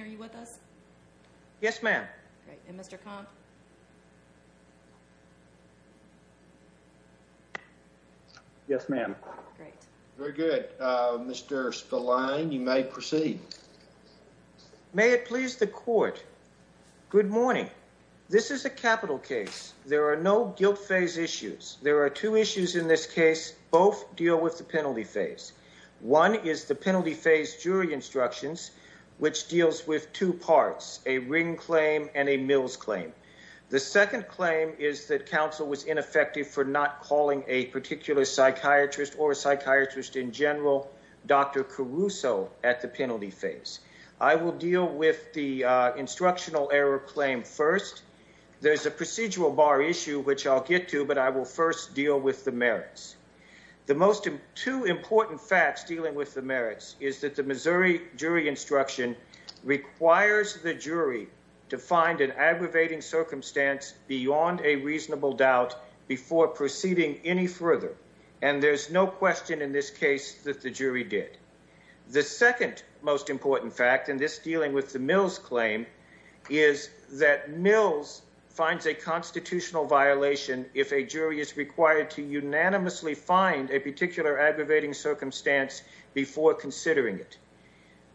Are you with us? Yes, ma'am. And Mr. Yes, ma'am. Great. Very good. Mr. Spillane, you may proceed. May it please the court. Good morning. This is a capital case. There are no guilt phase issues. There are two issues in this case. Both deal with the penalty phase. One is the penalty phase jury instructions, which deals with two parts, a ring claim and a mills claim. The second claim is that counsel was ineffective for not calling a particular psychiatrist or a psychiatrist in general, Dr. Caruso at the penalty phase. I will deal with the instructional error claim first. There's a procedural bar issue, which I'll get to, but I will first deal with the merits. The most two important facts dealing with the merits is that the Missouri jury instruction requires the jury to find an aggravating circumstance beyond a reasonable doubt before proceeding any further. And there's no question in this case that the jury did. The second most important fact in this dealing with the mills claim is that Mills finds a constitutional violation. If a jury is required to unanimously find a particular aggravating circumstance before considering it,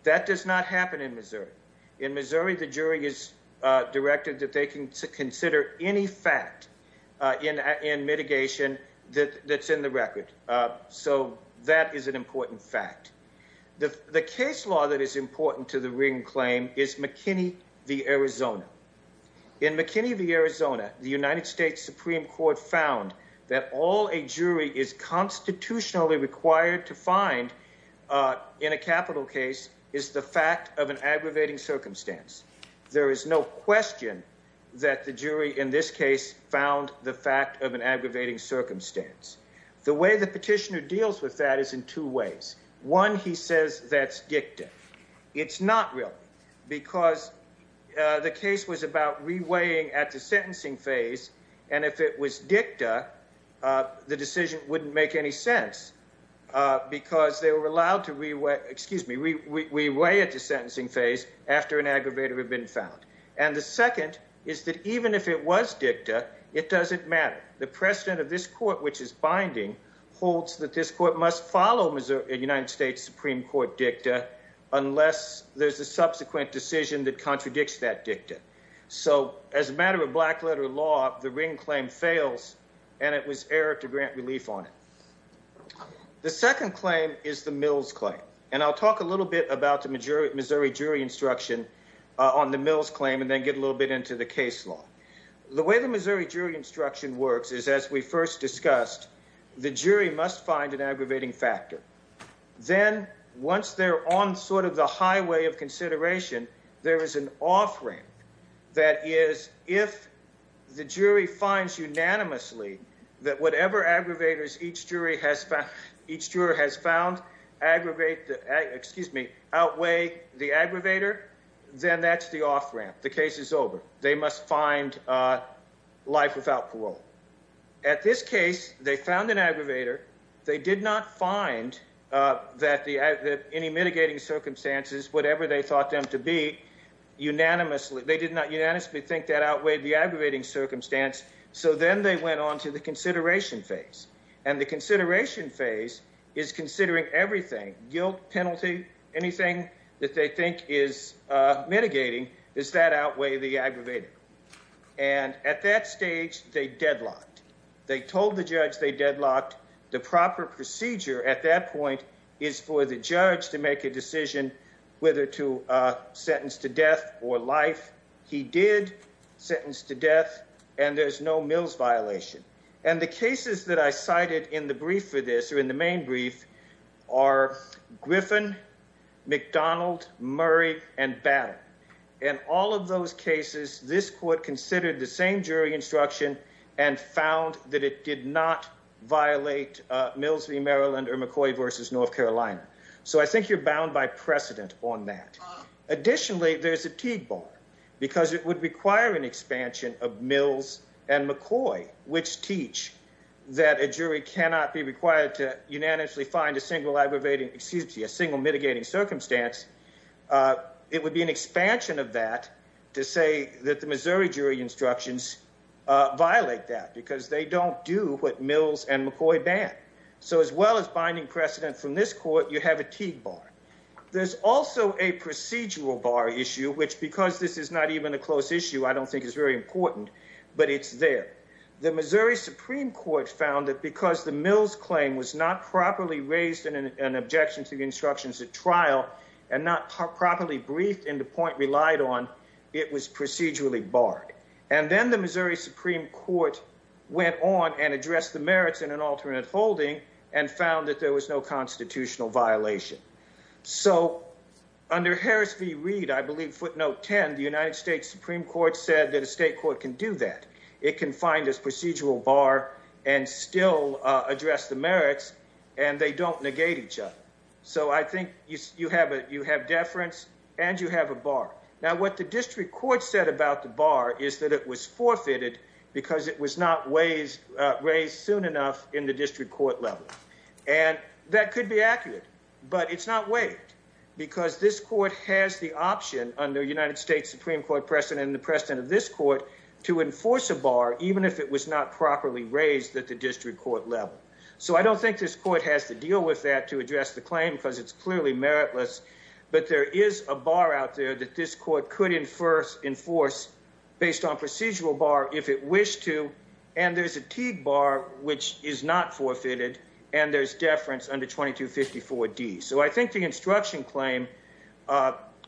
that does not happen in Missouri. In Missouri, the jury is directed that they can consider any fact in mitigation that's in the record. So that is an important fact. The case law that is important to the ring claim is McKinney v. There is no question that the jury in this case found the fact of an aggravating circumstance. The way the petitioner deals with that is in two ways. One, he says that's dicta. It's not real because the case was about reweighing at the sentencing phase, and if it was dicta, the decision wouldn't make any sense because they were allowed to reweigh at the sentencing phase after an aggravator had been found. And the second is that even if it was dicta, it doesn't matter. The precedent of this court, which is binding, holds that this court must follow a United States Supreme Court dicta unless there's a subsequent decision that contradicts that dicta. So as a matter of black letter law, the ring claim fails, and it was error to grant relief on it. The second claim is the Mills claim, and I'll talk a little bit about the Missouri jury instruction on the Mills claim and then get a little bit into the case law. The way the Missouri jury instruction works is, as we first discussed, the jury must find an aggravating factor. Then, once they're on sort of the highway of consideration, there is an off-ramp that is, if the jury finds unanimously that whatever aggravators each juror has found outweigh the aggravator, then that's the off-ramp. The case is over. They must find life without parole. At this case, they found an aggravator. They did not find that any mitigating circumstances, whatever they thought them to be, unanimously, they did not unanimously think that outweighed the aggravating circumstance. So then they went on to the consideration phase, and the consideration phase is considering everything, guilt, penalty, anything that they think is mitigating, does that outweigh the aggravator? And at that stage, they deadlocked. They told the judge they deadlocked. The proper procedure at that point is for the judge to make a decision whether to sentence to death or life. He did sentence to death, and there's no Mills violation. And the cases that I cited in the brief for this or in the main brief are Griffin, McDonald, Murray, and Battle. In all of those cases, this court considered the same jury instruction and found that it did not violate Mills v. Maryland or McCoy v. North Carolina. So I think you're bound by precedent on that. Additionally, there's a Teague bar because it would require an expansion of Mills and McCoy, which teach that a jury cannot be required to unanimously find a single aggravating, excuse me, a single mitigating circumstance. It would be an expansion of that to say that the Missouri jury instructions violate that because they don't do what Mills and McCoy ban. So as well as binding precedent from this court, you have a Teague bar. There's also a procedural bar issue, which because this is not even a close issue, I don't think is very important, but it's there. The Missouri Supreme Court found that because the Mills claim was not properly raised in an objection to the instructions at trial and not properly briefed in the point relied on, it was procedurally barred. And then the Missouri Supreme Court went on and addressed the merits in an alternate holding and found that there was no constitutional violation. So under Harris v. Reed, I believe footnote 10, the United States Supreme Court said that a state court can do that. It can find this procedural bar and still address the merits and they don't negate each other. So I think you have a you have deference and you have a bar. Now, what the district court said about the bar is that it was forfeited because it was not raised soon enough in the district court level. And that could be accurate, but it's not waived because this court has the option under United States Supreme Court precedent and the precedent of this court to enforce a bar, even if it was not properly raised at the district court level. So I don't think this court has to deal with that to address the claim because it's clearly meritless. But there is a bar out there that this court could enforce based on procedural bar if it wished to. And there's a bar which is not forfeited. And there's deference under 2254 D. So I think the instruction claim,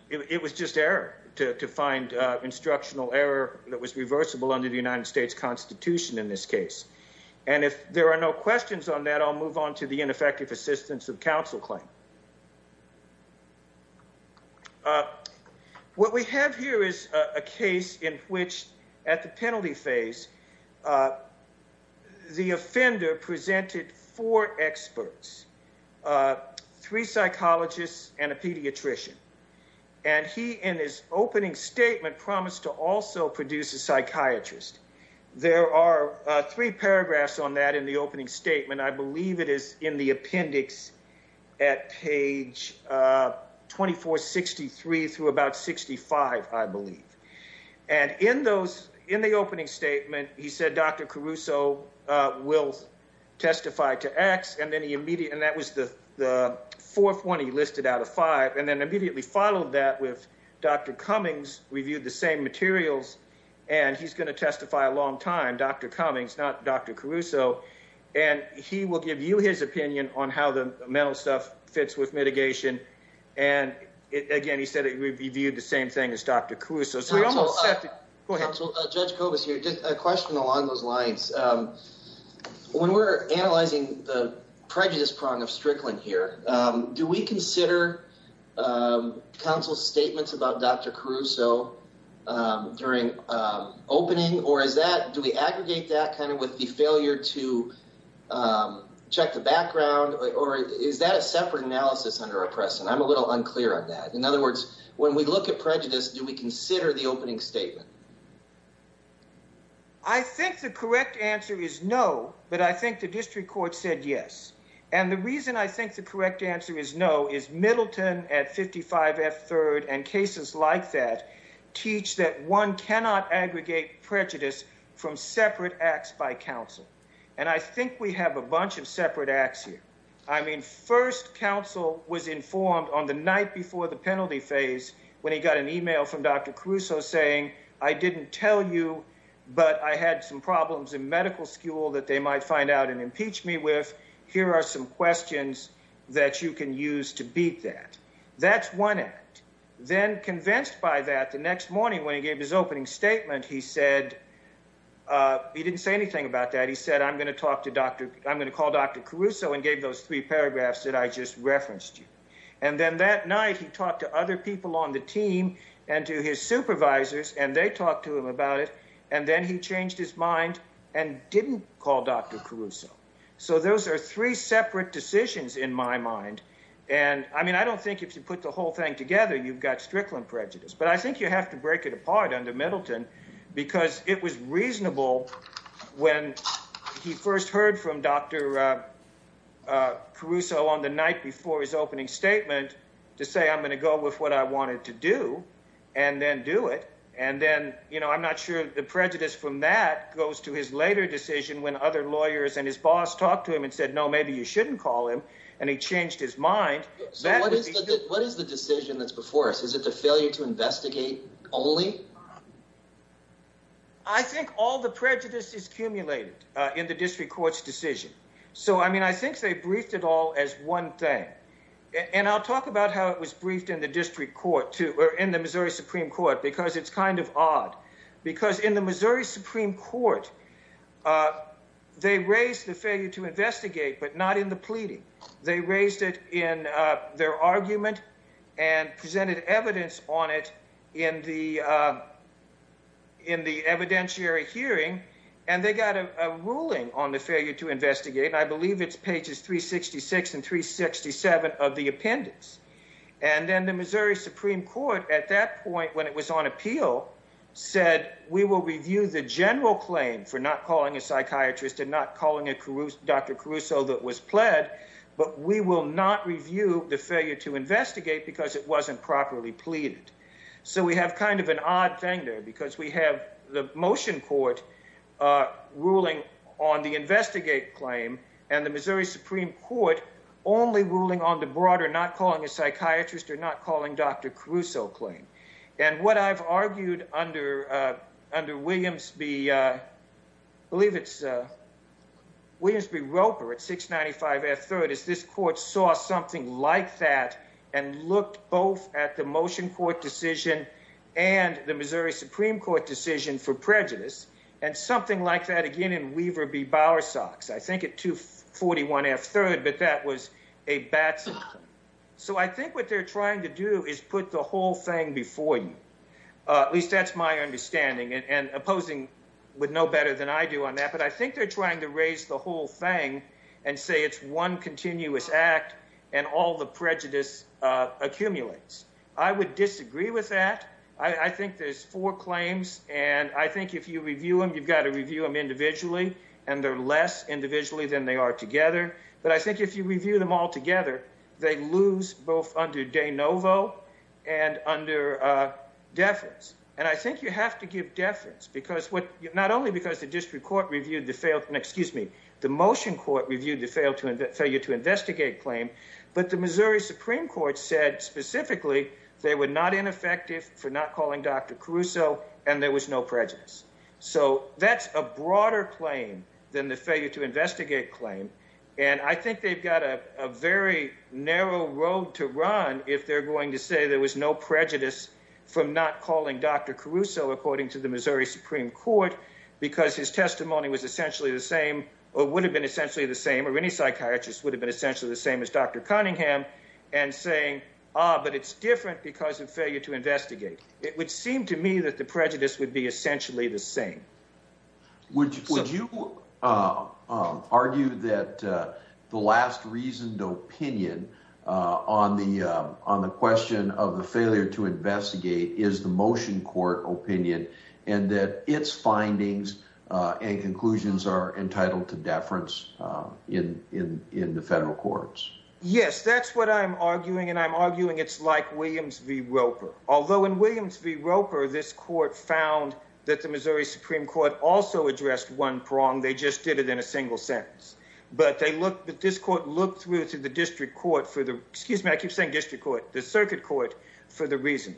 it was just error to find instructional error that was reversible under the United States Constitution in this case. And if there are no questions on that, I'll move on to the ineffective assistance of counsel claim. What we have here is a case in which at the penalty phase, the offender presented four experts, three psychologists and a pediatrician, and he, in his opening statement, promised to also produce a psychiatrist. There are three paragraphs on that in the opening statement. I believe it is in the appendix at page 2463 through about 65, I believe. And in those in the opening statement, he said Dr. Caruso will testify to X. And then he immediately and that was the fourth one he listed out of five and then immediately followed that with Dr. Cummings reviewed the same materials. And he's going to testify a long time, Dr. Cummings, not Dr. Caruso. And he will give you his opinion on how the mental stuff fits with mitigation. And again, he said it would be viewed the same thing as Dr. Caruso. Go ahead. So Judge Cobus here, just a question along those lines. When we're analyzing the prejudice prong of Strickland here, do we consider counsel statements about Dr. Caruso during opening? Or is that do we aggregate that kind of with the failure to check the background? Or is that a separate analysis under a precedent? I'm a little unclear on that. In other words, when we look at prejudice, do we consider the opening statement? I think the correct answer is no, but I think the district court said yes. And the reason I think the correct answer is no is Middleton at 55 F. Third and cases like that teach that one cannot aggregate prejudice from separate acts by counsel. And I think we have a bunch of separate acts here. First, counsel was informed on the night before the penalty phase when he got an email from Dr. Caruso saying, I didn't tell you, but I had some problems in medical school that they might find out and impeach me with. Here are some questions that you can use to beat that. That's one act. Then, convinced by that, the next morning when he gave his opening statement, he said, he didn't say anything about that. I'm going to call Dr. Caruso and gave those three paragraphs that I just referenced you. And then that night, he talked to other people on the team and to his supervisors, and they talked to him about it. And then he changed his mind and didn't call Dr. Caruso. So those are three separate decisions in my mind. And I mean, I don't think if you put the whole thing together, you've got Strickland prejudice. But I think you have to break it apart under Middleton, because it was reasonable when he first heard from Dr. Caruso on the night before his opening statement to say, I'm going to go with what I wanted to do and then do it. And then, you know, I'm not sure the prejudice from that goes to his later decision when other lawyers and his boss talked to him and said, no, maybe you shouldn't call him. And he changed his mind. What is the decision that's before us? Is it the failure to investigate only? I think all the prejudice is accumulated in the district court's decision. So, I mean, I think they briefed it all as one thing. And I'll talk about how it was briefed in the district court too, or in the Missouri Supreme Court, because it's kind of odd. Because in the Missouri Supreme Court, they raised the failure to investigate, but not in the pleading. They raised it in their argument and presented evidence on it in the evidentiary hearing. And they got a ruling on the failure to investigate. I believe it's pages 366 and 367 of the appendix. And then the Missouri Supreme Court at that point, when it was on appeal, said we will review the general claim for not calling a psychiatrist and not calling Dr. Caruso that was pled. But we will not review the failure to investigate because it wasn't properly pleaded. So we have kind of an odd thing there, because we have the motion court ruling on the investigate claim, and the Missouri Supreme Court only ruling on the broader not calling a psychiatrist or not calling Dr. Caruso claim. And what I've argued under Williams v. Roper at 695 F-3rd is this court saw something like that and looked both at the motion court decision and the Missouri Supreme Court decision for prejudice and something like that again in Weaver v. Bowersox, I think at 241 F-3rd. But that was a Batson claim. So I think what they're trying to do is put the whole thing before you. At least that's my understanding. And opposing would know better than I do on that. But I think they're trying to raise the whole thing and say it's one continuous act and all the prejudice accumulates. I would disagree with that. I think there's four claims. And I think if you review them, you've got to review them individually. And they're less individually than they are together. But I think if you review them all together, they lose both under de novo and under deference. And I think you have to give deference. Not only because the motion court reviewed the failure to investigate claim, but the Missouri Supreme Court said specifically they were not ineffective for not calling Dr. Caruso and there was no prejudice. So that's a broader claim than the failure to investigate claim. And I think they've got a very narrow road to run if they're going to say there was no prejudice from not calling Dr. Caruso, according to the Missouri Supreme Court, because his testimony was essentially the same or would have been essentially the same or any psychiatrist would have been essentially the same as Dr. Cunningham and saying, ah, but it's different because of failure to investigate. It would seem to me that the prejudice would be essentially the same. Would you argue that the last reasoned opinion on the question of the failure to investigate is the motion court opinion and that its findings and conclusions are entitled to deference in the federal courts? Yes, that's what I'm arguing. And I'm arguing it's like Williams v. Roper, although in Williams v. Roper, this court found that the Missouri Supreme Court also addressed one prong. They just did it in a single sentence, but they looked at this court, looked through through the district court for the excuse me, I keep saying district court, the circuit court for the reason.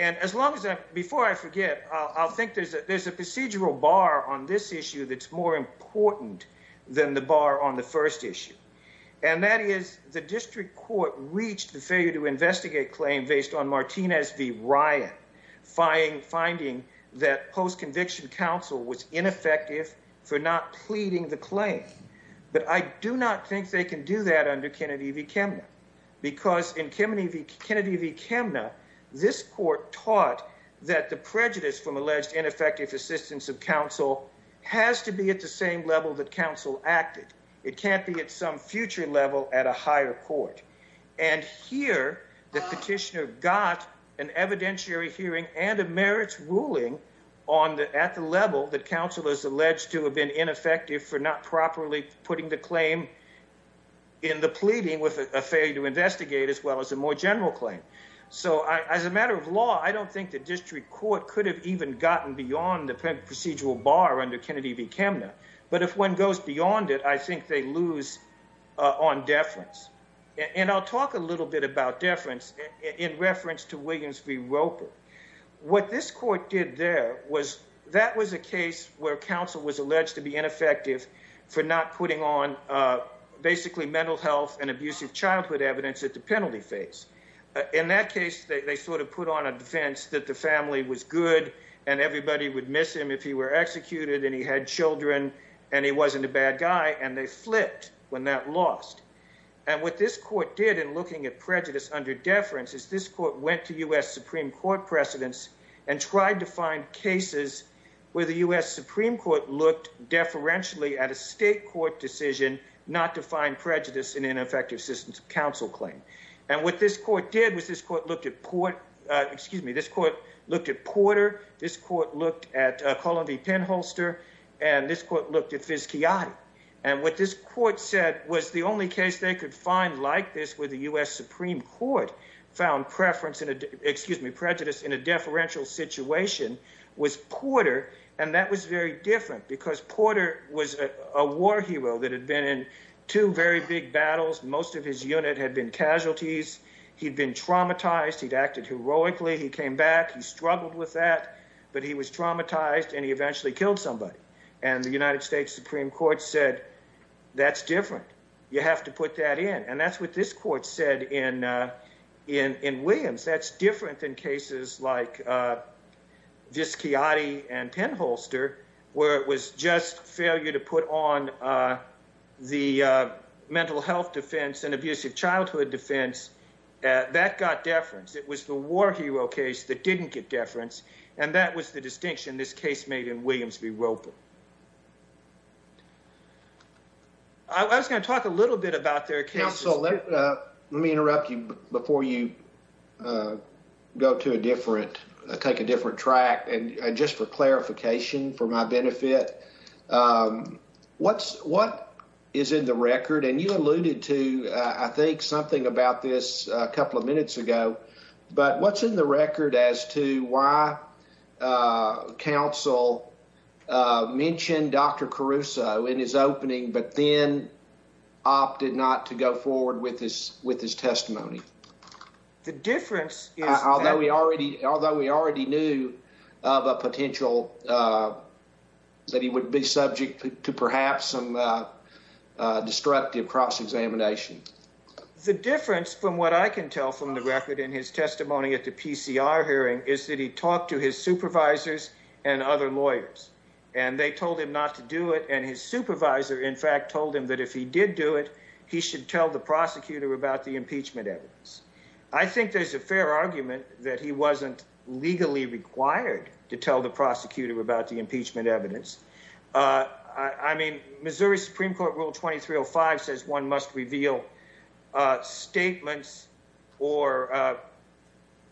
And as long as before I forget, I'll think there's a procedural bar on this issue that's more important than the bar on the first issue. And that is the district court reached the failure to investigate claim based on Martinez v. Ryan finding that post-conviction counsel was ineffective for not pleading the claim. But I do not think they can do that under Kennedy v. Kemner. Because in Kennedy v. Kemner, this court taught that the prejudice from alleged ineffective assistance of counsel has to be at the same level that counsel acted. It can't be at some future level at a higher court. And here, the petitioner got an evidentiary hearing and a merits ruling at the level that counsel is alleged to have been ineffective for not properly putting the claim in the pleading with a failure to investigate as well as a more general claim. So as a matter of law, I don't think the district court could have even gotten beyond the procedural bar under Kennedy v. Kemner. But if one goes beyond it, I think they lose on deference. And I'll talk a little bit about deference in reference to Williams v. Roper. What this court did there was that was a case where counsel was alleged to be ineffective for not putting on basically mental health and abusive childhood evidence at the penalty phase. In that case, they sort of put on a defense that the family was good and everybody would miss him if he were executed and he had children and he wasn't a bad guy, and they flipped when that lost. And what this court did in looking at prejudice under deference is this court went to U.S. Supreme Court precedents and tried to find cases where the U.S. Supreme Court looked deferentially at a state court decision not to find prejudice in ineffective assistance of counsel claim. And what this court did was this court looked at Porter this court looked at Cullen v. Penholster, and this court looked at Vizcayati. And what this court said was the only case they could find like this where the U.S. Supreme Court found preference in a, excuse me, prejudice in a deferential situation was Porter. And that was very different because Porter was a war hero that had been in two very big battles. Most of his unit had been casualties. He'd been traumatized. He'd acted heroically. He came back. He struggled with that. But he was traumatized and he eventually killed somebody. And the United States Supreme Court said, that's different. You have to put that in. And that's what this court said in Williams. That's different than cases like Vizcayati and Penholster where it was just failure to put on the mental health defense and abusive childhood defense. That got deference. It was the war hero case that didn't get deference. And that was the distinction this case made in Williams v. Roper. I was going to talk a little bit about their cases. Counsel, let me interrupt you before you go to a different, take a different track. And just for clarification, for my benefit, what is in the record? And you alluded to, I think, something about this a couple of minutes ago. But what's in the record as to why counsel mentioned Dr. Caruso in his opening, but then opted not to go forward with his testimony? Although we already knew of a potential that he would be subject to perhaps some destructive cross-examination. The difference from what I can tell from the record in his testimony at the PCR hearing is that he talked to his supervisors and other lawyers. And they told him not to do it. And his supervisor, in fact, told him that if he did do it, he should tell the prosecutor about the impeachment evidence. I think there's a fair argument that he wasn't legally required to tell the prosecutor about the impeachment evidence. I mean, Missouri Supreme Court Rule 2305 says one must reveal statements or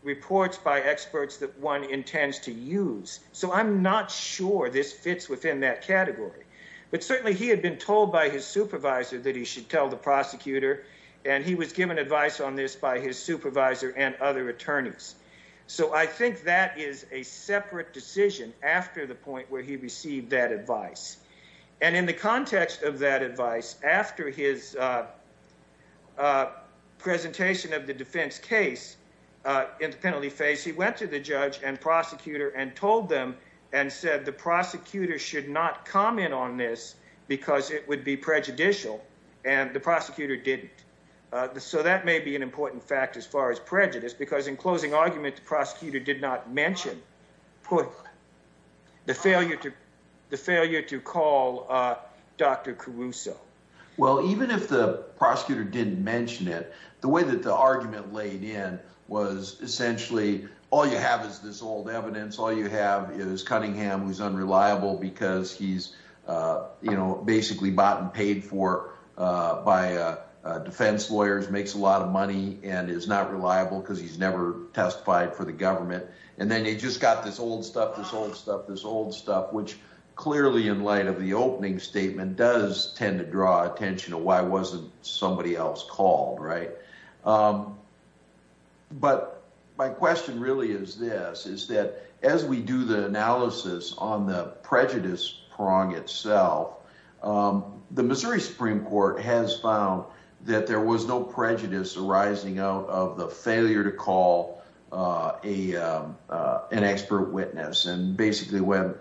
reports by experts that one intends to use. So I'm not sure this fits within that category. But certainly he had been told by his supervisor that he should tell the prosecutor. And he was given advice on this by his supervisor and other attorneys. So I think that is a separate decision after the point where he received that advice. And in the context of that advice, after his presentation of the defense case, in the penalty phase, he went to the judge and prosecutor and told them and said the prosecutor should not comment on this because it would be prejudicial. And the prosecutor didn't. So that may be an important fact as far as prejudice, because in closing argument, the prosecutor did not mention the failure to the failure to call Dr. Caruso. Well, even if the prosecutor didn't mention it, the way that the argument laid in was essentially all you have is this old evidence. All you have is Cunningham, who's unreliable because he's, you know, basically bought and paid for by defense lawyers, makes a lot of money and is not reliable because he's never testified for the government. And then you just got this old stuff, this old stuff, this old stuff, which clearly in light of the opening statement does tend to draw attention to why wasn't somebody else called, right? But my question really is this, is that as we do the analysis on the prejudice prong itself, the Missouri Supreme Court has found that there was no prejudice arising out of the failure to call an expert witness and basically went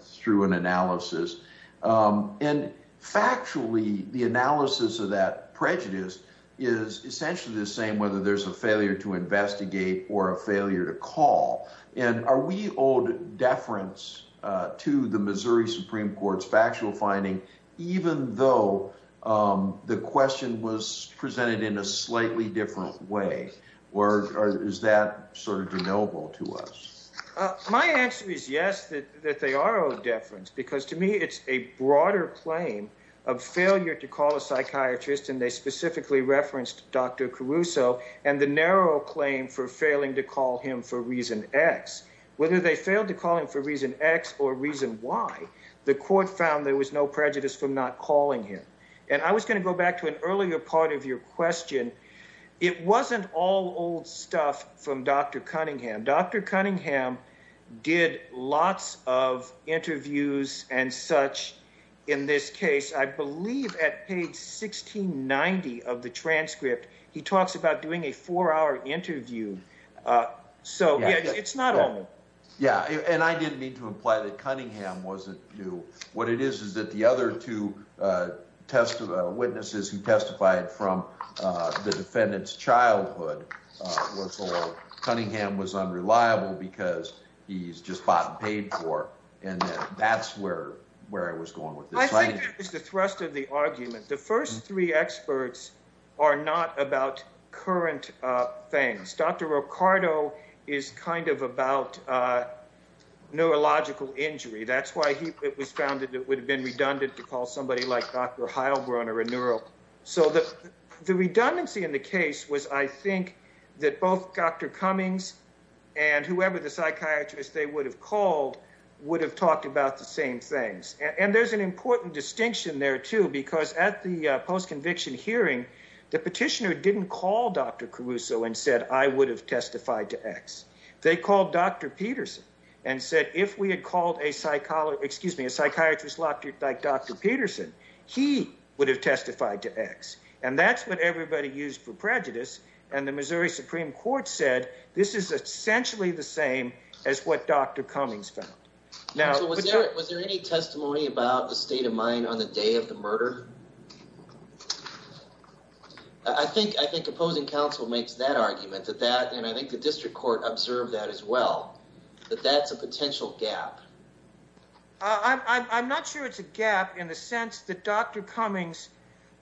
through an analysis. And factually, the analysis of that prejudice is essentially the same, whether there's a failure to investigate or a failure to call. And are we owed deference to the Missouri Supreme Court's factual finding, even though the question was presented in a slightly different way? Or is that sort of de novo to us? My answer is yes, that they are owed deference, because to me, it's a broader claim of failure to call a psychiatrist, and they specifically referenced Dr. Caruso and the narrow claim for failing to call him for reason X, whether they failed to call him for reason X or reason Y, the court found there was no prejudice from not calling him. And I was going to go back to an earlier part of your question. It wasn't all old stuff from Dr. Cunningham. Dr. Cunningham did lots of interviews and such. In this case, I believe at page 1690 of the transcript, he talks about doing a four-hour interview. So, yeah, it's not old. Yeah, and I didn't mean to imply that Cunningham wasn't new. What it is is that the other two witnesses who testified from the defendant's childhood were told Cunningham was unreliable because he's just bought and paid for, and that's where I was going with this. I think there is the thrust of the argument. The first three experts are not about current things. Dr. Ricardo is kind of about neurological injury. That's why it was found that it would have been redundant to call somebody like Dr. Heilbrunner a neuro. So the redundancy in the case was, I think, that both Dr. Cummings and whoever the psychiatrist they would have called would have talked about the same things. And there's an important distinction there, too, because at the post-conviction hearing, the petitioner didn't call Dr. Caruso and said, I would have testified to X. They called Dr. Peterson and said, if we had called a psychiatrist like Dr. Peterson, he would have testified to X. And that's what everybody used for prejudice. And the Missouri Supreme Court said, this is essentially the same as what Dr. Cummings found. Was there any testimony about the state of mind on the day of the murder? I think opposing counsel makes that argument, and I think the district court observed that as well, that that's a potential gap. I'm not sure it's a gap in the sense that Dr. Cummings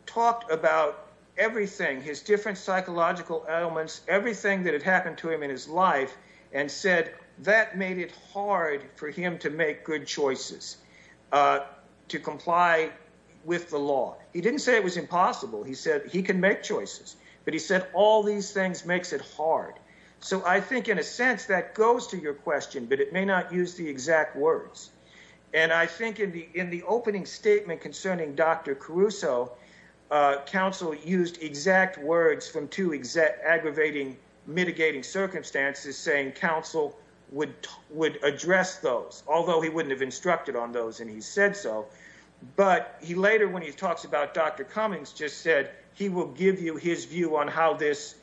talked about everything, his different psychological ailments, everything that had happened to him in his life, and that made it hard for him to make good choices, to comply with the law. He didn't say it was impossible. He said he can make choices, but he said all these things makes it hard. So I think in a sense that goes to your question, but it may not use the exact words. And I think in the opening statement concerning Dr. Caruso, counsel used exact words from aggravating mitigating circumstances, saying counsel would address those, although he wouldn't have instructed on those and he said so. But he later, when he talks about Dr. Cummings, just said he will give you his view on how this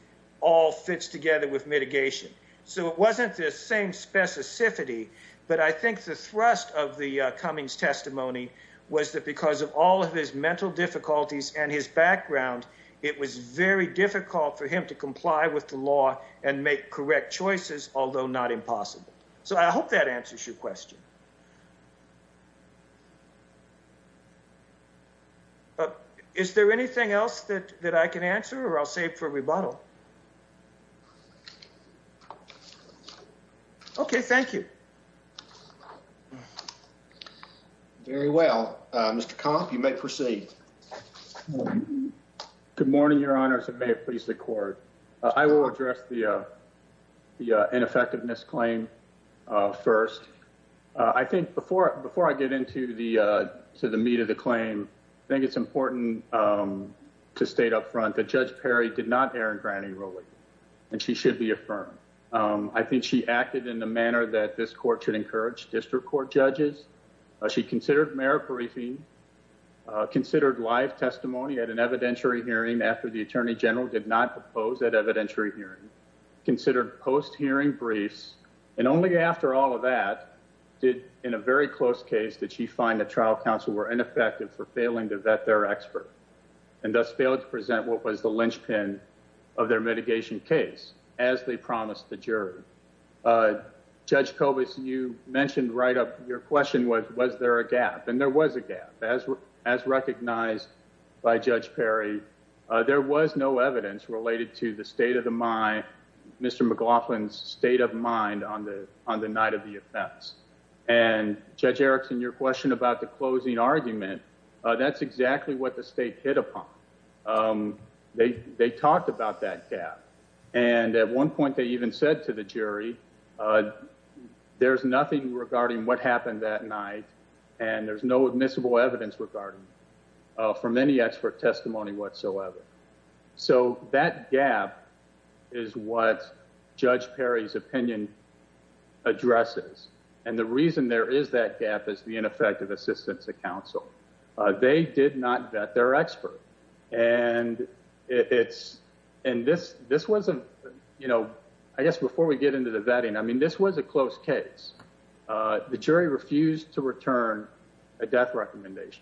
all fits together with mitigation. So it wasn't the same specificity. But I think the thrust of the Cummings testimony was that because of all of his mental difficulties and his background, it was very difficult for him to comply with the law and make correct choices, although not impossible. So I hope that answers your question. Is there anything else that that I can answer or I'll save for rebuttal? OK, thank you. Very well, Mr. Comp, you may proceed. Well, good morning, Your Honors. It may please the court. I will address the the ineffectiveness claim first. I think before before I get into the to the meat of the claim, I think it's important to state up front that Judge Perry did not err in granting ruling and she should be affirmed. I think she acted in the manner that this court should encourage district court judges. She considered mayor briefing, considered live testimony at an evidentiary hearing after the attorney general did not propose that evidentiary hearing, considered post hearing briefs, and only after all of that did in a very close case that she find the trial counsel were ineffective for failing to vet their expert and thus failed to present what was the linchpin of their mitigation case, as they promised the jury. Judge Cobus, you mentioned right up. Your question was, was there a gap? And there was a gap as as recognized by Judge Perry. There was no evidence related to the state of the mind, Mr. McLaughlin's state of mind on the on the night of the events. And Judge Erickson, your question about the closing argument. That's exactly what the state hit upon. They they talked about that gap. And at one point they even said to the jury, there's nothing regarding what happened that night and there's no admissible evidence regarding from any expert testimony whatsoever. So that gap is what Judge Perry's opinion addresses. And the reason there is that gap is the ineffective assistance of counsel. They did not vet their expert. And it's and this this wasn't, you know, I guess before we get into the vetting, I mean, this was a close case. The jury refused to return a death recommendation.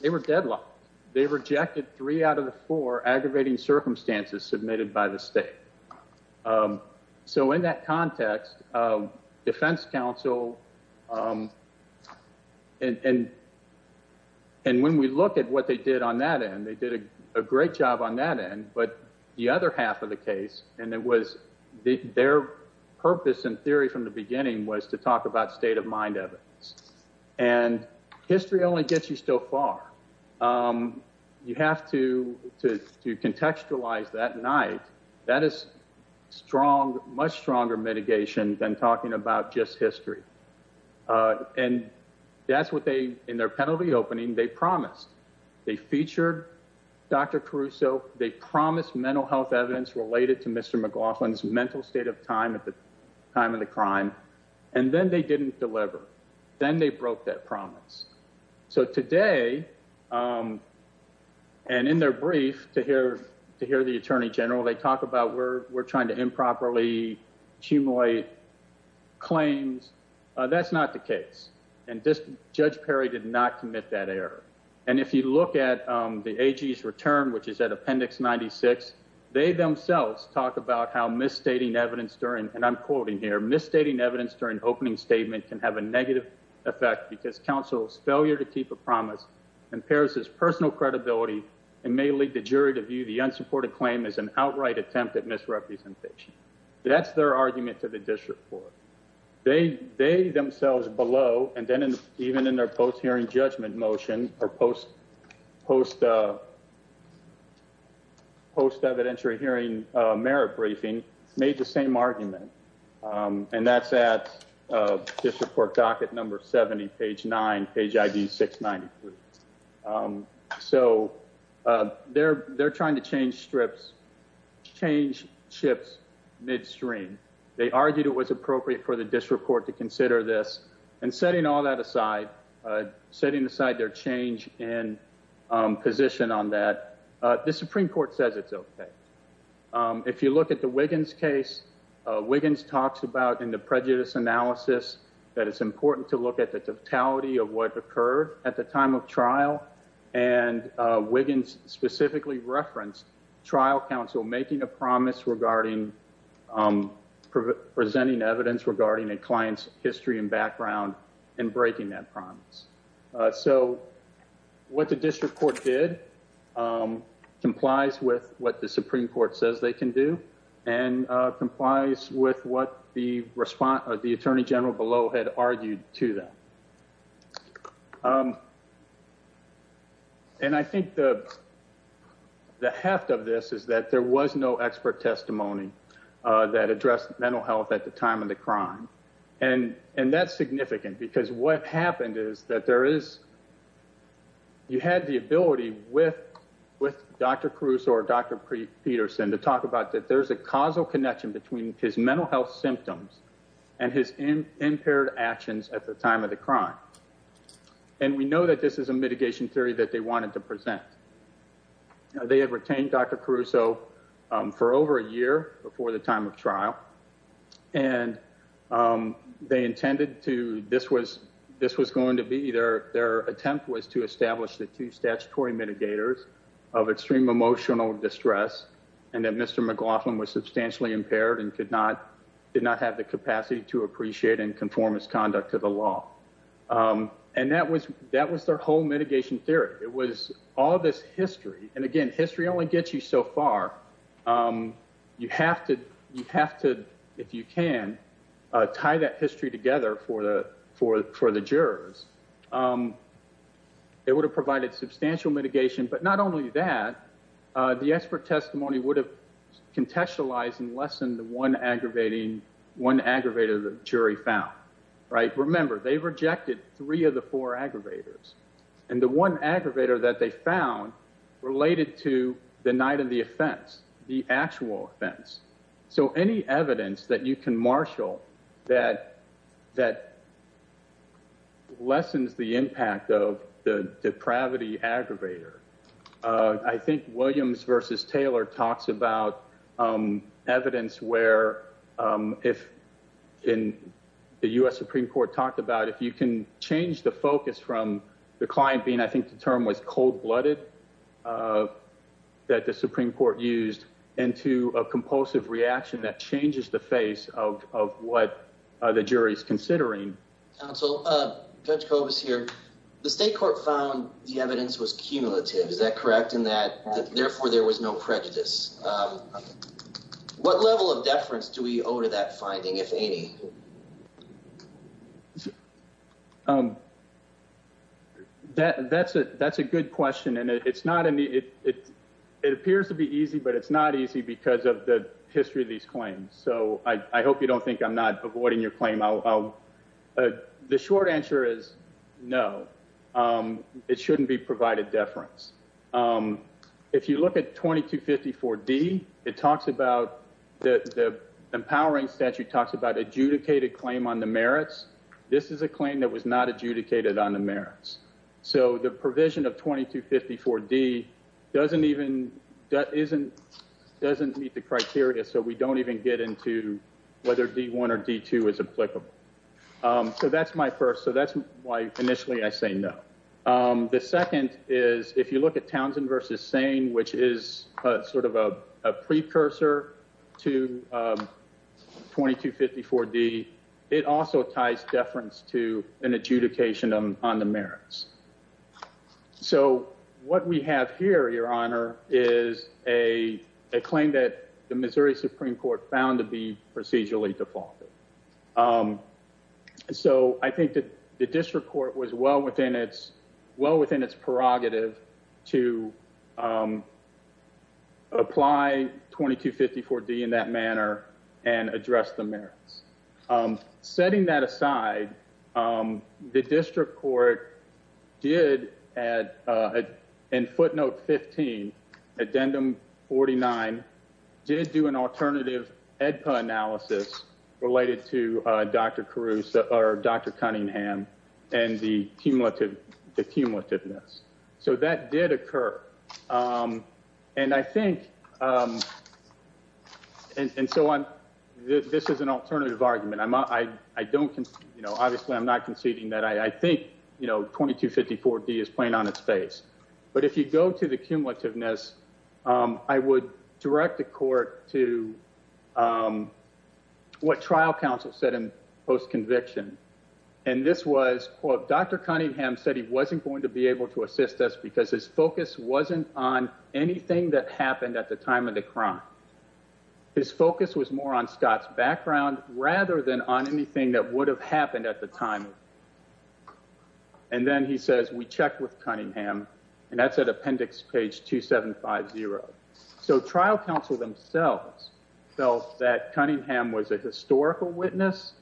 They were deadlocked. They rejected three out of the four aggravating circumstances submitted by the state. So in that context, defense counsel. And and when we look at what they did on that end, they did a great job on that end. But the other half of the case, and it was their purpose and theory from the beginning was to talk about state of mind evidence. And history only gets you so far. You have to to contextualize that night. That is strong, much stronger mitigation than talking about just history. And that's what they in their penalty opening, they promised they featured Dr. Caruso. They promised mental health evidence related to Mr. McLaughlin's mental state of time at the time of the crime. And then they didn't deliver. Then they broke that promise. So today and in their brief to hear to hear the attorney general, they talk about where trying to improperly accumulate claims. That's not the case. And this judge Perry did not commit that error. And if you look at the return, which is at Appendix 96, they themselves talk about how misstating evidence during and I'm quoting here misstating evidence during opening statement can have a negative effect because counsel's failure to keep a promise and Paris's personal credibility and may lead the jury to view the unsupported claim is an outright attempt at misrepresentation. That's their argument to the district for they they themselves below. And then even in their post hearing judgment motion or post post post evidentiary hearing merit briefing made the same argument. And that's at this report docket number 70 page nine page ID 693. So they're they're trying to change strips, change ships midstream. They argued it was appropriate for the district court to consider this and setting all that aside, setting aside their change in position on that. The Supreme Court says it's OK. If you look at the Wiggins case, Wiggins talks about in the prejudice analysis that it's trial and Wiggins specifically referenced trial counsel making a promise regarding presenting evidence regarding a client's history and background and breaking that promise. So what the district court did complies with what the Supreme Court says they can do and complies with what the response of the attorney general below had argued to them. And I think the. The heft of this is that there was no expert testimony that addressed mental health at the time of the crime. And and that's significant because what happened is that there is. You had the ability with with Dr. Cruz or Dr. Peterson to talk about that there's a causal connection between his mental health symptoms and his impaired actions at the time of the crime. And we know that this is a mitigation theory that they wanted to present. They had retained Dr. Caruso for over a year before the time of trial, and they intended to. This was this was going to be their their attempt was to establish the two statutory mitigators of extreme emotional distress and that Mr. McLaughlin was substantially impaired and could not did not have the capacity to appreciate and conform his conduct to the law. And that was that was their whole mitigation theory. It was all this history. And again, history only gets you so far. You have to you have to if you can tie that history together for the for for the jurors. It would have provided substantial mitigation, but not only that, the expert testimony would have contextualized and less than the one aggravating one aggravated jury found right. Remember, they rejected three of the four aggravators and the one aggravator that they found related to the night of the offense, the actual offense. So any evidence that you can marshal that that. Lessens the impact of the depravity aggravator. I think Williams versus Taylor talks about evidence where if in the U.S. Supreme Court talked about if you can change the focus from the client being, I think the term was cold blooded that the Supreme Court used into a compulsive reaction that changes the face of of what the jury is considering. Counsel, Judge Cobus here. The state court found the evidence was cumulative. Is that correct? And that therefore there was no prejudice. What level of deference do we owe to that finding, if any? So that that's a that's a good question. And it's not. It appears to be easy, but it's not easy because of the history of these claims. So I hope you don't think I'm not avoiding your claim. The short answer is no, it shouldn't be provided deference. If you look at 2254 D, it talks about the empowering statute talks about adjudicated claim on the merits. This is a claim that was not adjudicated on the merits. So the provision of 2254 D doesn't even that isn't doesn't meet the criteria. So we don't even get into whether D1 or D2 is applicable. So that's my first. So that's why initially I say no. The second is if you look at Townsend versus Sane, which is sort of a precursor to 2254 D. It also ties deference to an adjudication on the merits. So what we have here, Your Honor, is a claim that the Missouri Supreme Court found to be procedurally defaulted. So I think that the district court was well within its well within its prerogative to apply 2254 D in that manner and address the merits. Setting that aside, the district court did, in footnote 15, addendum 49, did do an alternative AEDPA analysis related to Dr. Caruso or Dr. Cunningham and the cumulative, the cumulativeness. So that did occur. And I think and so on, this is an alternative argument. I don't, you know, obviously I'm not conceding that I think, you know, 2254 D is playing on its face. But if you go to the cumulativeness, I would direct the court to what trial counsel said in post conviction. And this was Dr. Cunningham said he wasn't going to be able to assist us because his focus wasn't on anything that happened at the time of the crime. His focus was more on Scott's background rather than on anything that would have happened at the time. And then he says, we checked with Cunningham and that's at appendix page 2750. So trial counsel themselves felt that Cunningham was a historical witness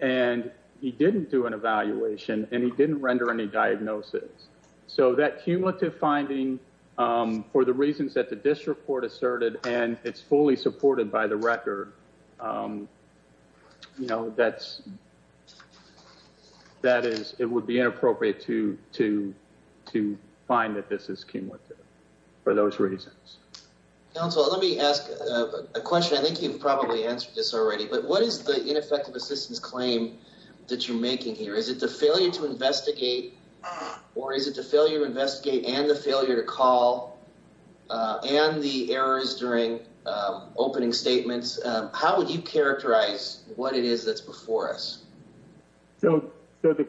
and he didn't do an evaluation and he didn't render any diagnosis. So that cumulative finding for the reasons that the district court asserted and it's fully supported by the record, you know, that's, that is, it would be inappropriate to find that this is cumulative for those reasons. Counsel, let me ask a question. I think you've probably answered this already, but what is the ineffective assistance claim that you're making here? Is it the failure to investigate or is it the failure to investigate and the failure to call and the errors during opening statements? How would you characterize what it is that's before us? So the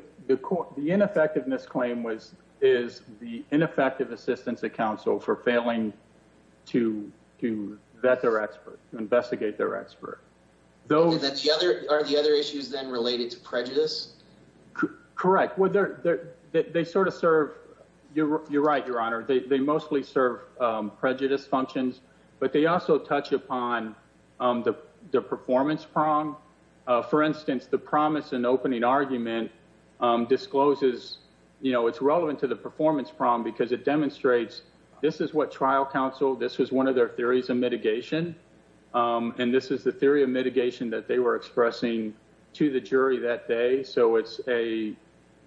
ineffectiveness claim was, is the ineffective assistance that counsel for failing to vet their expert, investigate their expert. Though that the other, are the other issues then related to prejudice? Correct. Well, they're, they're, they sort of serve your, your right. Your honor, they, they mostly serve prejudice functions, but they also touch upon the performance prong. For instance, the promise and opening argument discloses, you know, it's relevant to the performance problem because it demonstrates this is what trial counsel, this was one of their theories of mitigation. And this is the theory of mitigation that they were expressing to the jury that day. So it's a,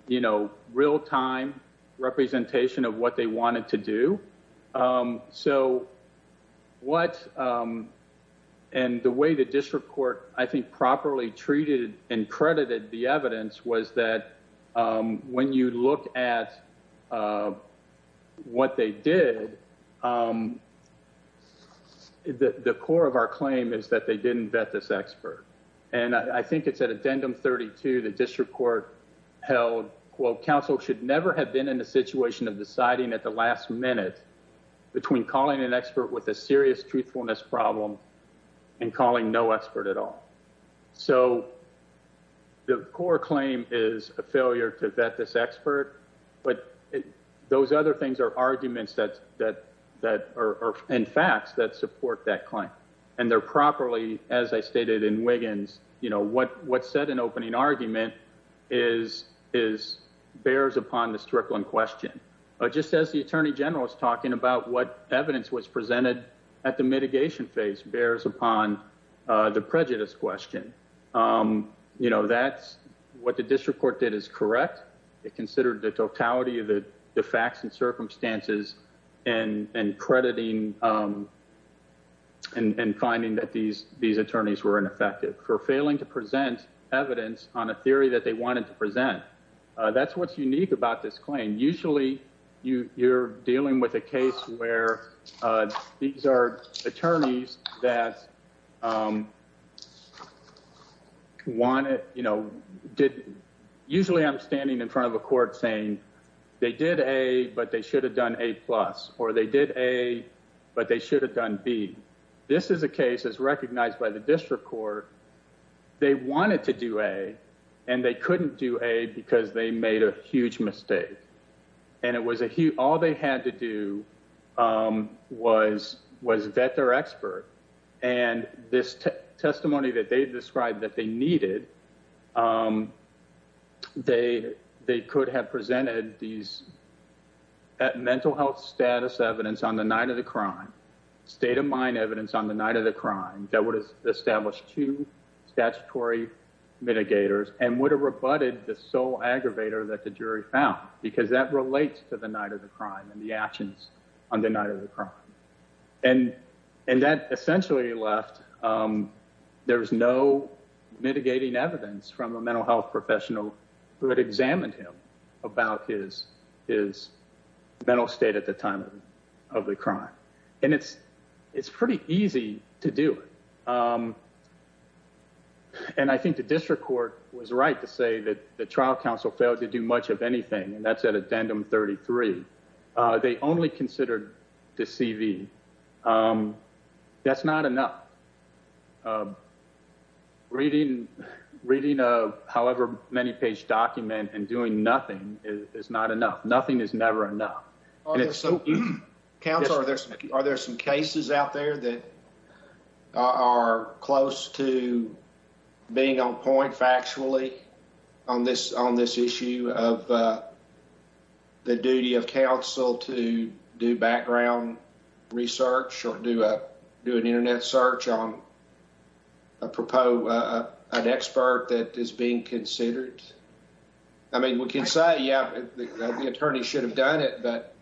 you know, real time representation of what they wanted to do. So what, and the way the district court, I think properly treated and credited the evidence was that when you look at what they did, the core of our claim is that they didn't vet this expert. And I think it's at addendum 32, the district court held quote, counsel should never have been in a situation of deciding at the last minute between calling an expert with a serious truthfulness problem and calling no expert at all. So the core claim is a failure to vet this expert, but those other things are arguments that, that, that are in facts that support that claim. And they're properly, as I stated in Wiggins, you know, what, what set an opening argument is, is bears upon this trickling question. Just as the attorney general is talking about what evidence was presented at the mitigation phase bears upon the prejudice question. You know, that's what the district court did is correct. It considered the totality of the facts and circumstances and crediting and finding that these, these attorneys were ineffective for failing to present evidence on a theory that they wanted to present. That's what's unique about this claim. Usually you, you're dealing with a case where these are attorneys that want it, you know, did, usually I'm standing in front of a court saying they did a, but they should have done a plus, or they did a, but they should have done B. This is a case as recognized by the district court. They wanted to do a, and they couldn't do a because they made a huge mistake. And it was a huge, all they had to do was, was vet their expert. And this testimony that they described that they needed, they, they could have presented these at mental health status evidence on the night of the crime state of mind evidence on the night of the crime that would have established two statutory mitigators and would have rebutted the sole aggravator that the jury found, because that relates to the night of the crime and the actions on the night of the crime. And, and that essentially left, there was no mitigating evidence from a mental health professional who had examined him about his, his mental state at the time of the crime. And it's, it's pretty easy to do. Um, and I think the district court was right to say that the trial council failed to do much of anything. And that's at addendum 33, uh, they only considered the CV. Um, that's not enough. Um, reading, reading, uh, however many page document and doing nothing is not enough. Nothing is never enough. And it's so council, are there, are there some cases out there that are close to being on point factually on this, on this issue of, uh, the duty of council to do background research or do a, do an internet search on a propo, uh, an expert that is being considered. I mean, we can say, yeah, the attorney should have done it, but,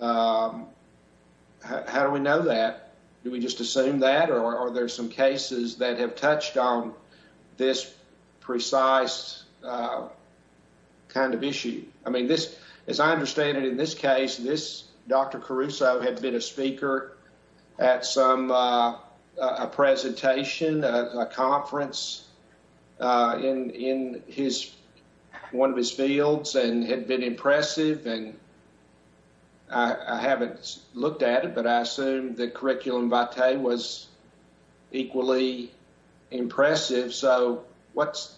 um, how do we know that? Do we just assume that? Or are there some cases that have touched on this precise, uh, kind of issue? I mean, this, as I understand it, in this case, this Dr. Caruso had been a speaker at some, uh, uh, a presentation, uh, a conference, uh, in, in his, one of his fields and had been impressive. And I haven't looked at it, but I assume that curriculum was equally impressive. So what's,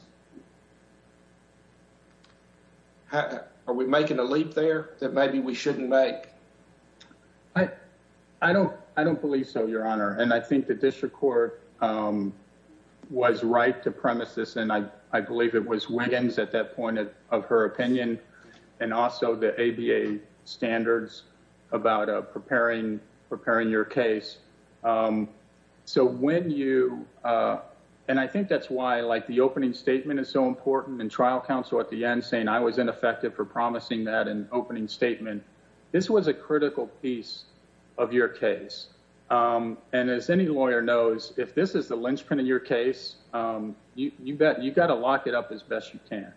are we making a leap there that maybe we shouldn't make? I, I don't, I don't believe so your honor. And I think the district court, um, was right to premise this. And I, I believe it was Wiggins at that point of her opinion and also the ABA standards about, uh, preparing, preparing your case. Um, so when you, uh, and I think that's why like the opening statement is so important and trial counsel at the end saying I was ineffective for promising that an opening statement, this was a critical piece of your case. Um, and as any lawyer knows, if this is the linchpin in your case, um, you, you bet you got to lock it up as best you can.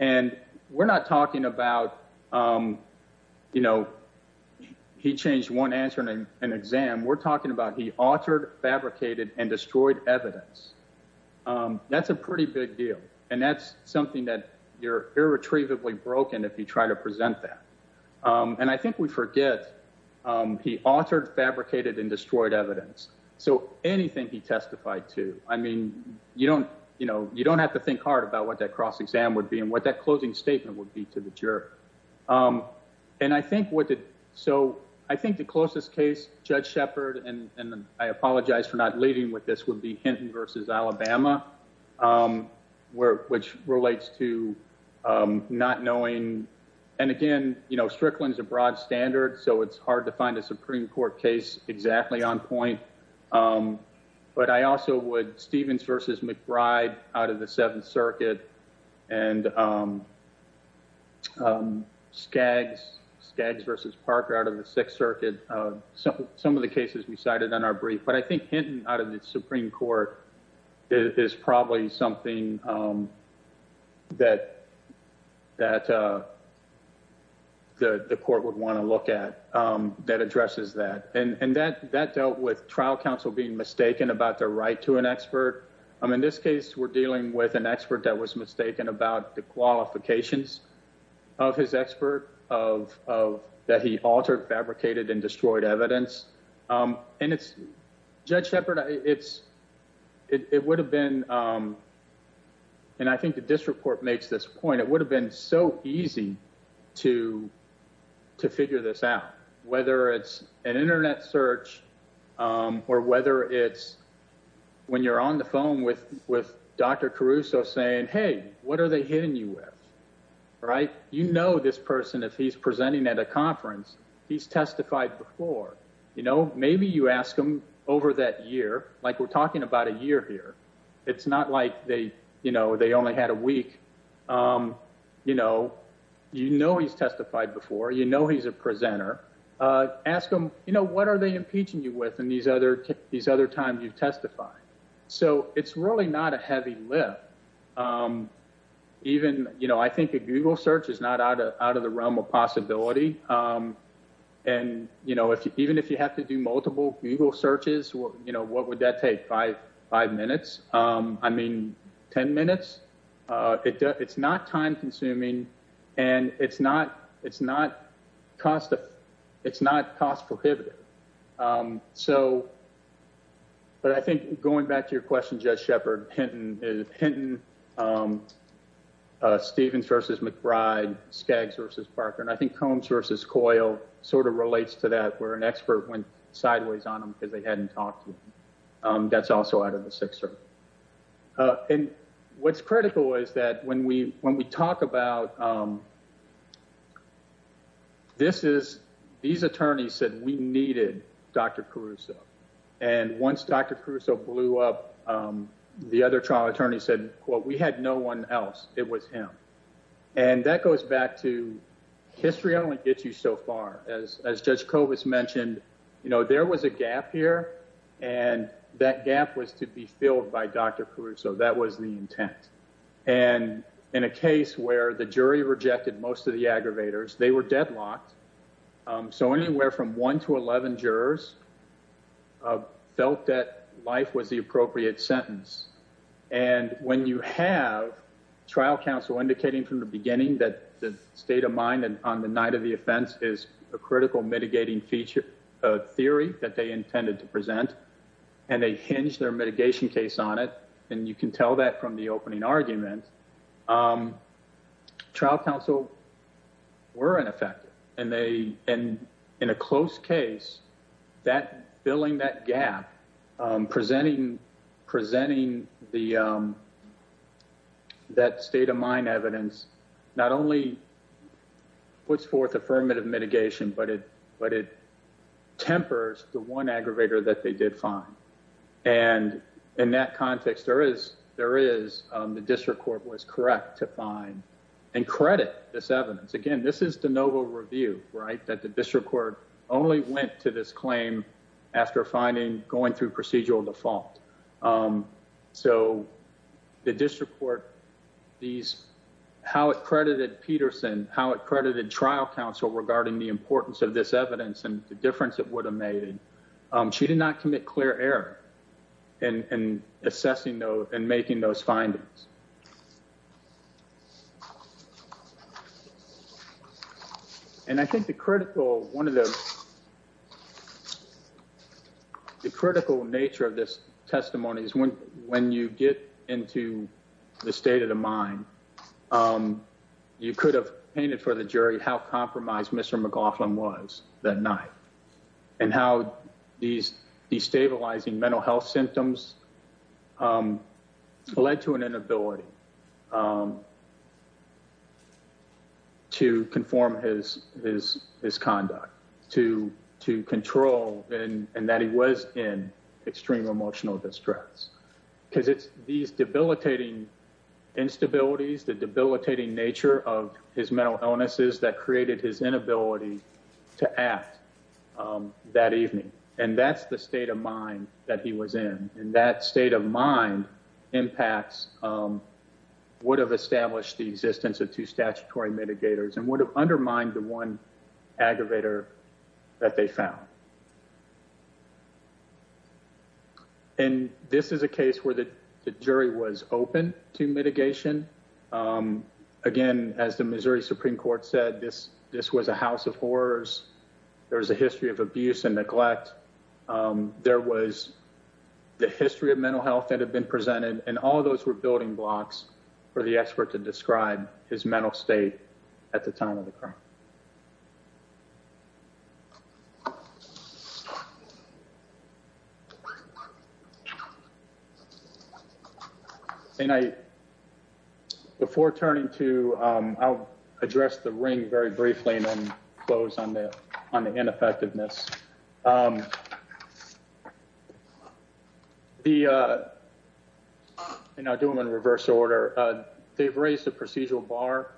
And we're not talking about, um, you know, he changed one answer and an exam we're talking about. He altered, fabricated and destroyed evidence. Um, that's a pretty big deal. And that's something that you're irretrievably broken. If you try to present that, um, and I think we forget, um, he altered, fabricated and destroyed evidence. So anything he testified to, I mean, you don't, you know, you don't have to think hard about what that cross exam would be and what that closing statement would be to the juror. Um, and I think what did, so I think the closest case judge Shepard, and I apologize for not leading with this would be Hinton versus Alabama, um, where, which relates to, um, not knowing. And again, you know, Strickland's a broad standard, so it's hard to find a Supreme Court case exactly on point. Um, but I also would Stevens versus McBride out of the seventh circuit and, um, um, Skaggs, Skaggs versus Parker out of the sixth circuit. Some of the cases we cited on our brief, but I think Hinton out of the Supreme Court is probably something, um, that, that, uh, the, the court would want to look at, um, that addresses that. And, and that, that dealt with trial counsel being mistaken about their right to an expert. I'm in this case, we're dealing with an expert that was mistaken about the qualifications of his expert of, of that. He altered fabricated and destroyed evidence. Um, and it's judge Shepard. It's, it would have been, um, and I think the district court makes this point. It would have been so easy to, to figure this out, whether it's an internet search, um, or whether it's when you're on the phone with, with Dr. Caruso saying, Hey, what are they hitting you with? Right. You know, this person, if he's presenting at a conference, he's testified before, you know, maybe you ask them over that year, like we're talking about a year here. It's not like they, you know, they only had a week. Um, you know, you know, he's testified before, you know, he's a presenter, uh, ask them, you know, what are they impeaching you with? And these other, these other times you've testified. So it's really not a heavy lift. Um, even, you know, I think a Google search is not out of, out of the realm of possibility. Um, and you know, if you, even if you have to do multiple Google searches, you know, what would that take? Five, five minutes. Um, I mean, 10 minutes, uh, it, it's not time consuming and it's not, it's not cost. It's not cost prohibitive. Um, so, but I think going back to your question, just Shepard, Hinton, Hinton, um, uh, Stevens versus McBride, Skaggs versus Parker. And I think Combs versus Coyle sort of relates to that where an expert went sideways on them because they hadn't talked to him. Um, that's also out of the Sixer. Uh, and what's critical is that when we, when we talk about, um, this is, these attorneys said we needed Dr. Caruso. And once Dr. Caruso blew up, um, the other trial attorney said, well, we had no one else. It was him. And that goes back to history. I don't want to get you so far as, as judge Covis mentioned, you know, there was a gap here and that gap was to be filled by Dr. Caruso. That was the intent. And in a case where the jury rejected most of the aggravators, they were deadlocked. Um, so anywhere from one to 11 jurors, uh, felt that life was the appropriate sentence. And when you have trial counsel indicating from the beginning that the state of mind and on the night of the offense is a critical mitigating feature, a theory that they intended to present and they hinge their mitigation case on it. And you can tell that from the opening argument, um, trial counsel were ineffective and they and in a close case that filling that gap, um, presenting, presenting the, um, that state of mind evidence, not only puts forth affirmative mitigation, but it, but it tempers the one aggravator that they did find. And in that context, there is, there is, um, the district court was correct to find and credit this evidence. Again, this is the novel review, right? That the district court only went to this claim after finding going through procedural default. Um, so the district court, these, how it credited Peterson, how it credited trial counsel regarding the importance of this evidence and the difference it would have made. Um, she did not commit clear error and assessing those and making those findings. And I think the critical, one of the, the critical nature of this testimony is when, when you get into the state of the mind, um, you could have painted for the jury, how compromised Mr. McLaughlin was that night and how these destabilizing mental health symptoms, um, led to an inability, um, to conform his, his, his conduct to, to control and that he was in extreme emotional distress because it's these debilitating instabilities, the debilitating nature of his mental illnesses that created his inability to act, um, that evening. And that's the state of mind that he was in. And that state of mind impacts, um, would have established the existence of two statutory mitigators and would have undermined the one aggravator that they found. And this is a case where the jury was open to mitigation. Um, again, as the Missouri Supreme Court said, this, this was a house of horrors. There was a history of abuse and neglect. Um, there was the history of mental health that had been presented and all of those were building blocks for the expert to describe his mental state at the time of the crime. And I, before turning to, um, I'll address the ring very briefly and then close on the, on the ineffectiveness. Um, the, uh, and I'll do them in reverse order. They've raised a procedural bar,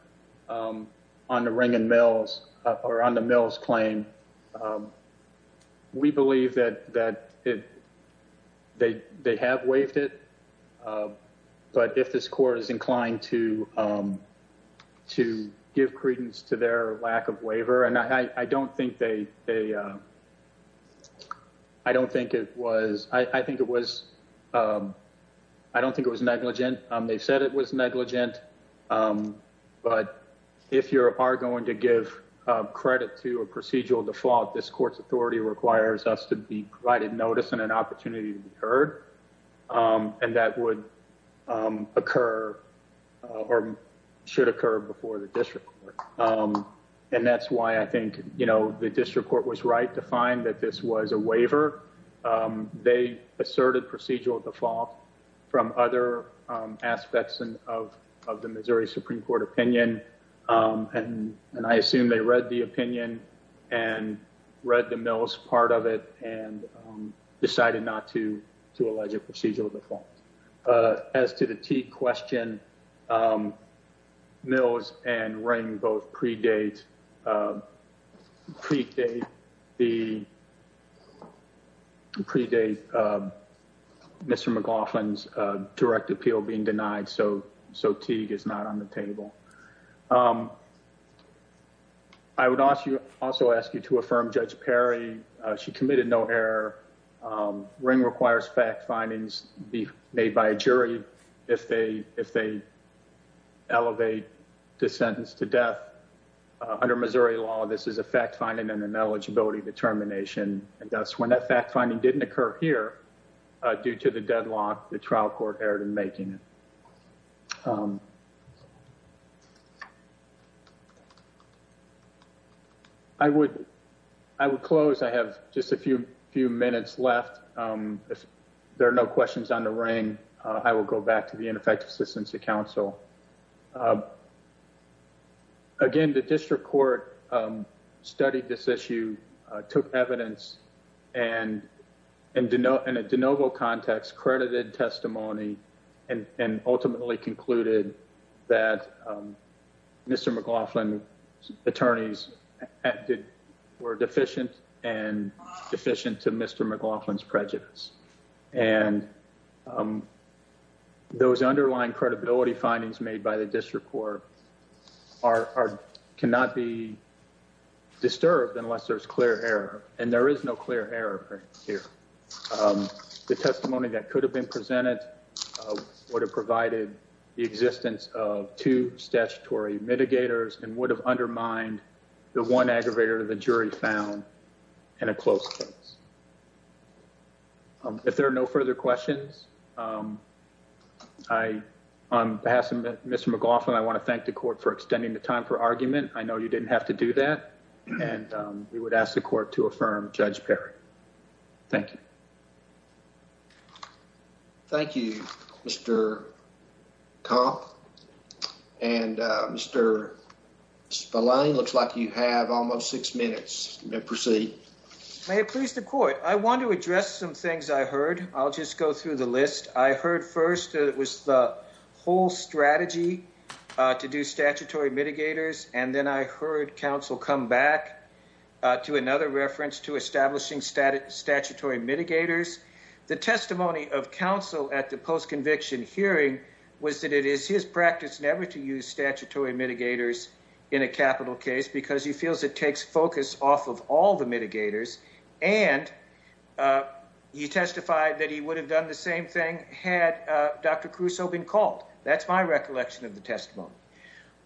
um, on the ring and mills or on the mills claim. Um, we believe that, that it, they, they have waived it. Um, but if this court is inclined to, um, to give credence to their lack of waiver and I, I don't think they, they, uh, I don't think it was, I think it was, um, I don't think it was negligent. They've said it was negligent. Um, but if you're, are going to give credit to a procedural default, this court's authority requires us to be provided notice and an opportunity to be heard. Um, and that would, um, occur, uh, or should occur before the district. Um, and that's why I think, you know, the district court was right to find that this was a waiver. Um, they asserted procedural default from other, um, aspects of, of the Missouri Supreme Court opinion. Um, and, and I assume they read the opinion and read the mills part of it and, um, decided not to, to allege a procedural default, uh, as to the T question, um, mills and ring both predate, uh, predate the predate, uh, Mr. McLaughlin's, uh, direct appeal being denied. So, so Teague is not on the table. Um, I would ask you also ask you to affirm judge Perry. She committed no error. Um, ring requires fact findings be made by a jury. If they, if they elevate the sentence to death, uh, under Missouri law, this is a fact finding and an eligibility determination. And that's when that fact finding didn't occur here, uh, due to the deadlock, the trial court erred in making it. Um, I would, I would close. I have just a few, few minutes left. Um, if there are no questions on the ring, uh, I will go back to the ineffective assistance to counsel. Um, again, the district court, um, studied this issue, uh, took evidence and, and to know, and it DeNovo context credited testimony and, and ultimately concluded that, um, Mr. McLaughlin attorneys were deficient and deficient to Mr. McLaughlin's prejudice. And, um, those underlying credibility findings made by the district court are, are, cannot be disturbed unless there's clear error. And there is no clear error here. Um, the testimony that could have been presented, uh, would have provided the existence of two mitigators and would have undermined the one aggravator the jury found in a close case. If there are no further questions, um, I, on behalf of Mr. McLaughlin, I want to thank the court for extending the time for argument. I know you didn't have to do that. And, um, we would ask the court to affirm judge Perry. Thank you. Thank you, Mr. Kopp and, uh, Mr. Spillane looks like you have almost six minutes to proceed. May it please the court. I want to address some things I heard. I'll just go through the list. I heard first that it was the whole strategy, uh, to do statutory mitigators. And then I heard council come back, uh, to another reference to establishing static statutory mitigators. The testimony of council at the post-conviction hearing was that it is his practice never to use statutory mitigators in a capital case because he feels it takes focus off of all the mitigators. And, uh, you testified that he would have done the same thing had, uh, Dr. Crusoe been called. That's my recollection of the testimony.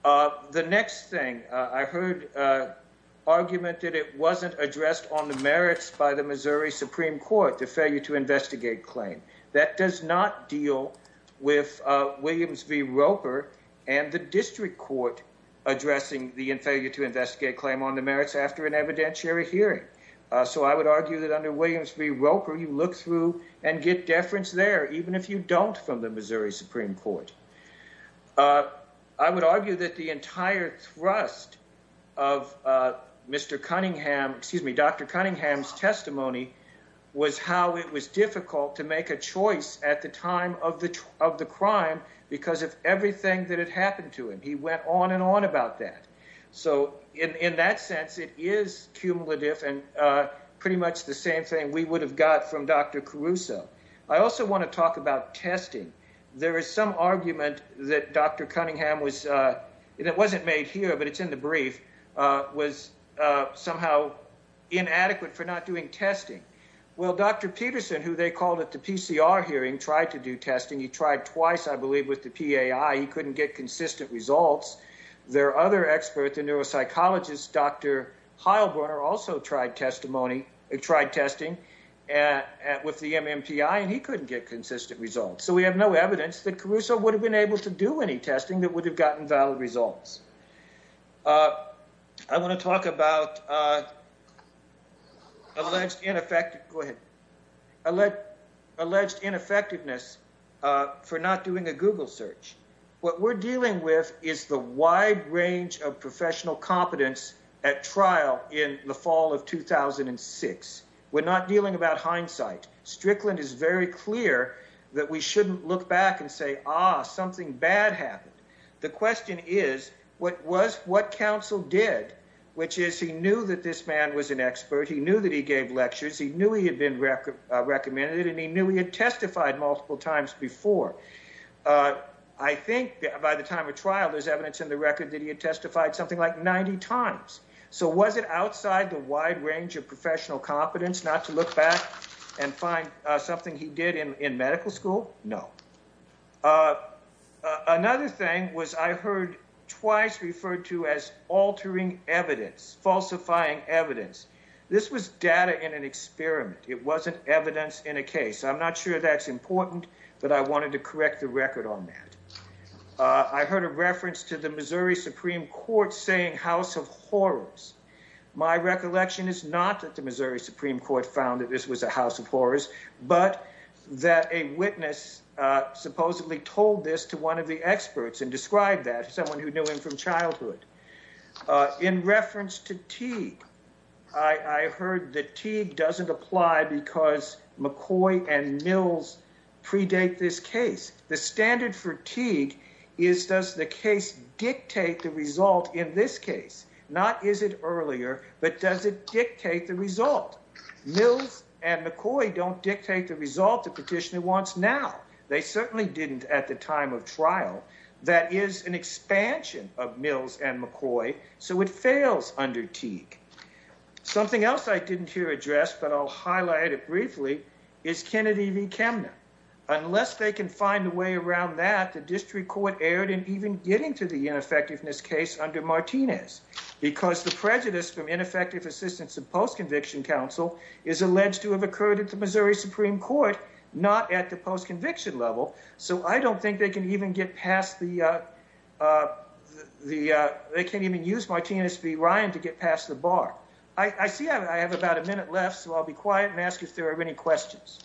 Uh, the next thing I heard, uh, argument that it wasn't addressed on the merits by the Missouri Supreme Court, the failure to investigate claim that does not deal with, uh, Williams v. Roper and the district court addressing the failure to investigate claim on the merits after an evidentiary hearing. Uh, so I would argue that under Williams v. Roper, you look through and get deference there, even if you don't from the Missouri Supreme Court. Uh, I would argue that the entire thrust of, uh, Mr. Cunningham, excuse me, Dr. Cunningham's testimony was how it was difficult to make a choice at the time of the, of the crime because of everything that had happened to him. He went on and on about that. So in, in that sense, it is cumulative and, uh, pretty much the same thing we would have got from Dr. Crusoe. I also want to talk about testing. There is some argument that Dr. Cunningham was, uh, and it wasn't made here, but it's in the brief, uh, was, uh, somehow inadequate for not doing testing. Well, Dr. Peterson, who they called at the PCR hearing, tried to do testing. He tried twice, I believe with the PAI, he couldn't get consistent results. There are other experts in neuropsychologists. Dr. Heilbrunner also tried testimony, tried testing at, at, with the MMPI and he couldn't get consistent results. So we have no evidence that Caruso would have been able to do any testing that would have gotten valid results. Uh, I want to talk about, uh, alleged ineffective, go ahead. I let alleged ineffectiveness, uh, for not doing a Google search. What we're dealing with is the wide range of professional competence at trial in the fall of 2006. We're not dealing about hindsight. Strickland is very clear that we shouldn't look back and say, ah, something bad happened. The question is what was, what counsel did, which is he knew that this man was an expert. He knew that he gave lectures. He knew he had been recommended and he knew he had testified multiple times before. Uh, I think by the time of trial, there's evidence in the record that he had testified something like 90 times. So was it outside the wide range of professional competence not to look back and find something he did in, in medical school? No. Uh, uh, another thing was I heard twice referred to as altering evidence, falsifying evidence. This was data in an experiment. It wasn't evidence in a case. I'm not sure that's important, but I wanted to correct the record on that. Uh, I heard a reference to the Missouri Supreme Court saying house of horrors. My recollection is not that the Missouri Supreme Court found that this was a house of horrors, but that a witness, uh, supposedly told this to one of the experts and described that someone who knew him from childhood, uh, in reference to Teague. I heard that Teague doesn't apply because McCoy and Mills predate this case. The standard for Teague is does the case dictate the result in this case? Not is it earlier, but does it dictate the result? Mills and McCoy don't dictate the result the petitioner wants now. They certainly didn't at the time of trial. That is an expansion of Mills and McCoy. So it fails under Teague. Something else I didn't hear addressed, but I'll highlight it briefly is Kennedy v. Kemner. Unless they can find a way around that, the district court erred in even getting to the ineffectiveness case under Martinez because the prejudice from ineffective assistance of post-conviction counsel is alleged to have occurred at the Missouri Supreme Court, not at the post-conviction level. So I don't think they can even get past the, uh, uh, the, uh, they can't even use Martinez v. Ryan to get past the bar. I see I have about a minute left, so I'll be quiet and ask if there are any questions.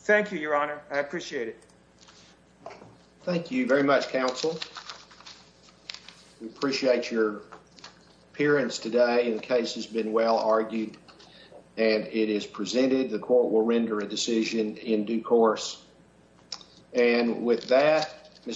Thank you, Your Honor. I appreciate it. Thank you very much, counsel. We appreciate your appearance today. The case has been well argued and it is presented. The court will render a decision in due course. And with that, Mr.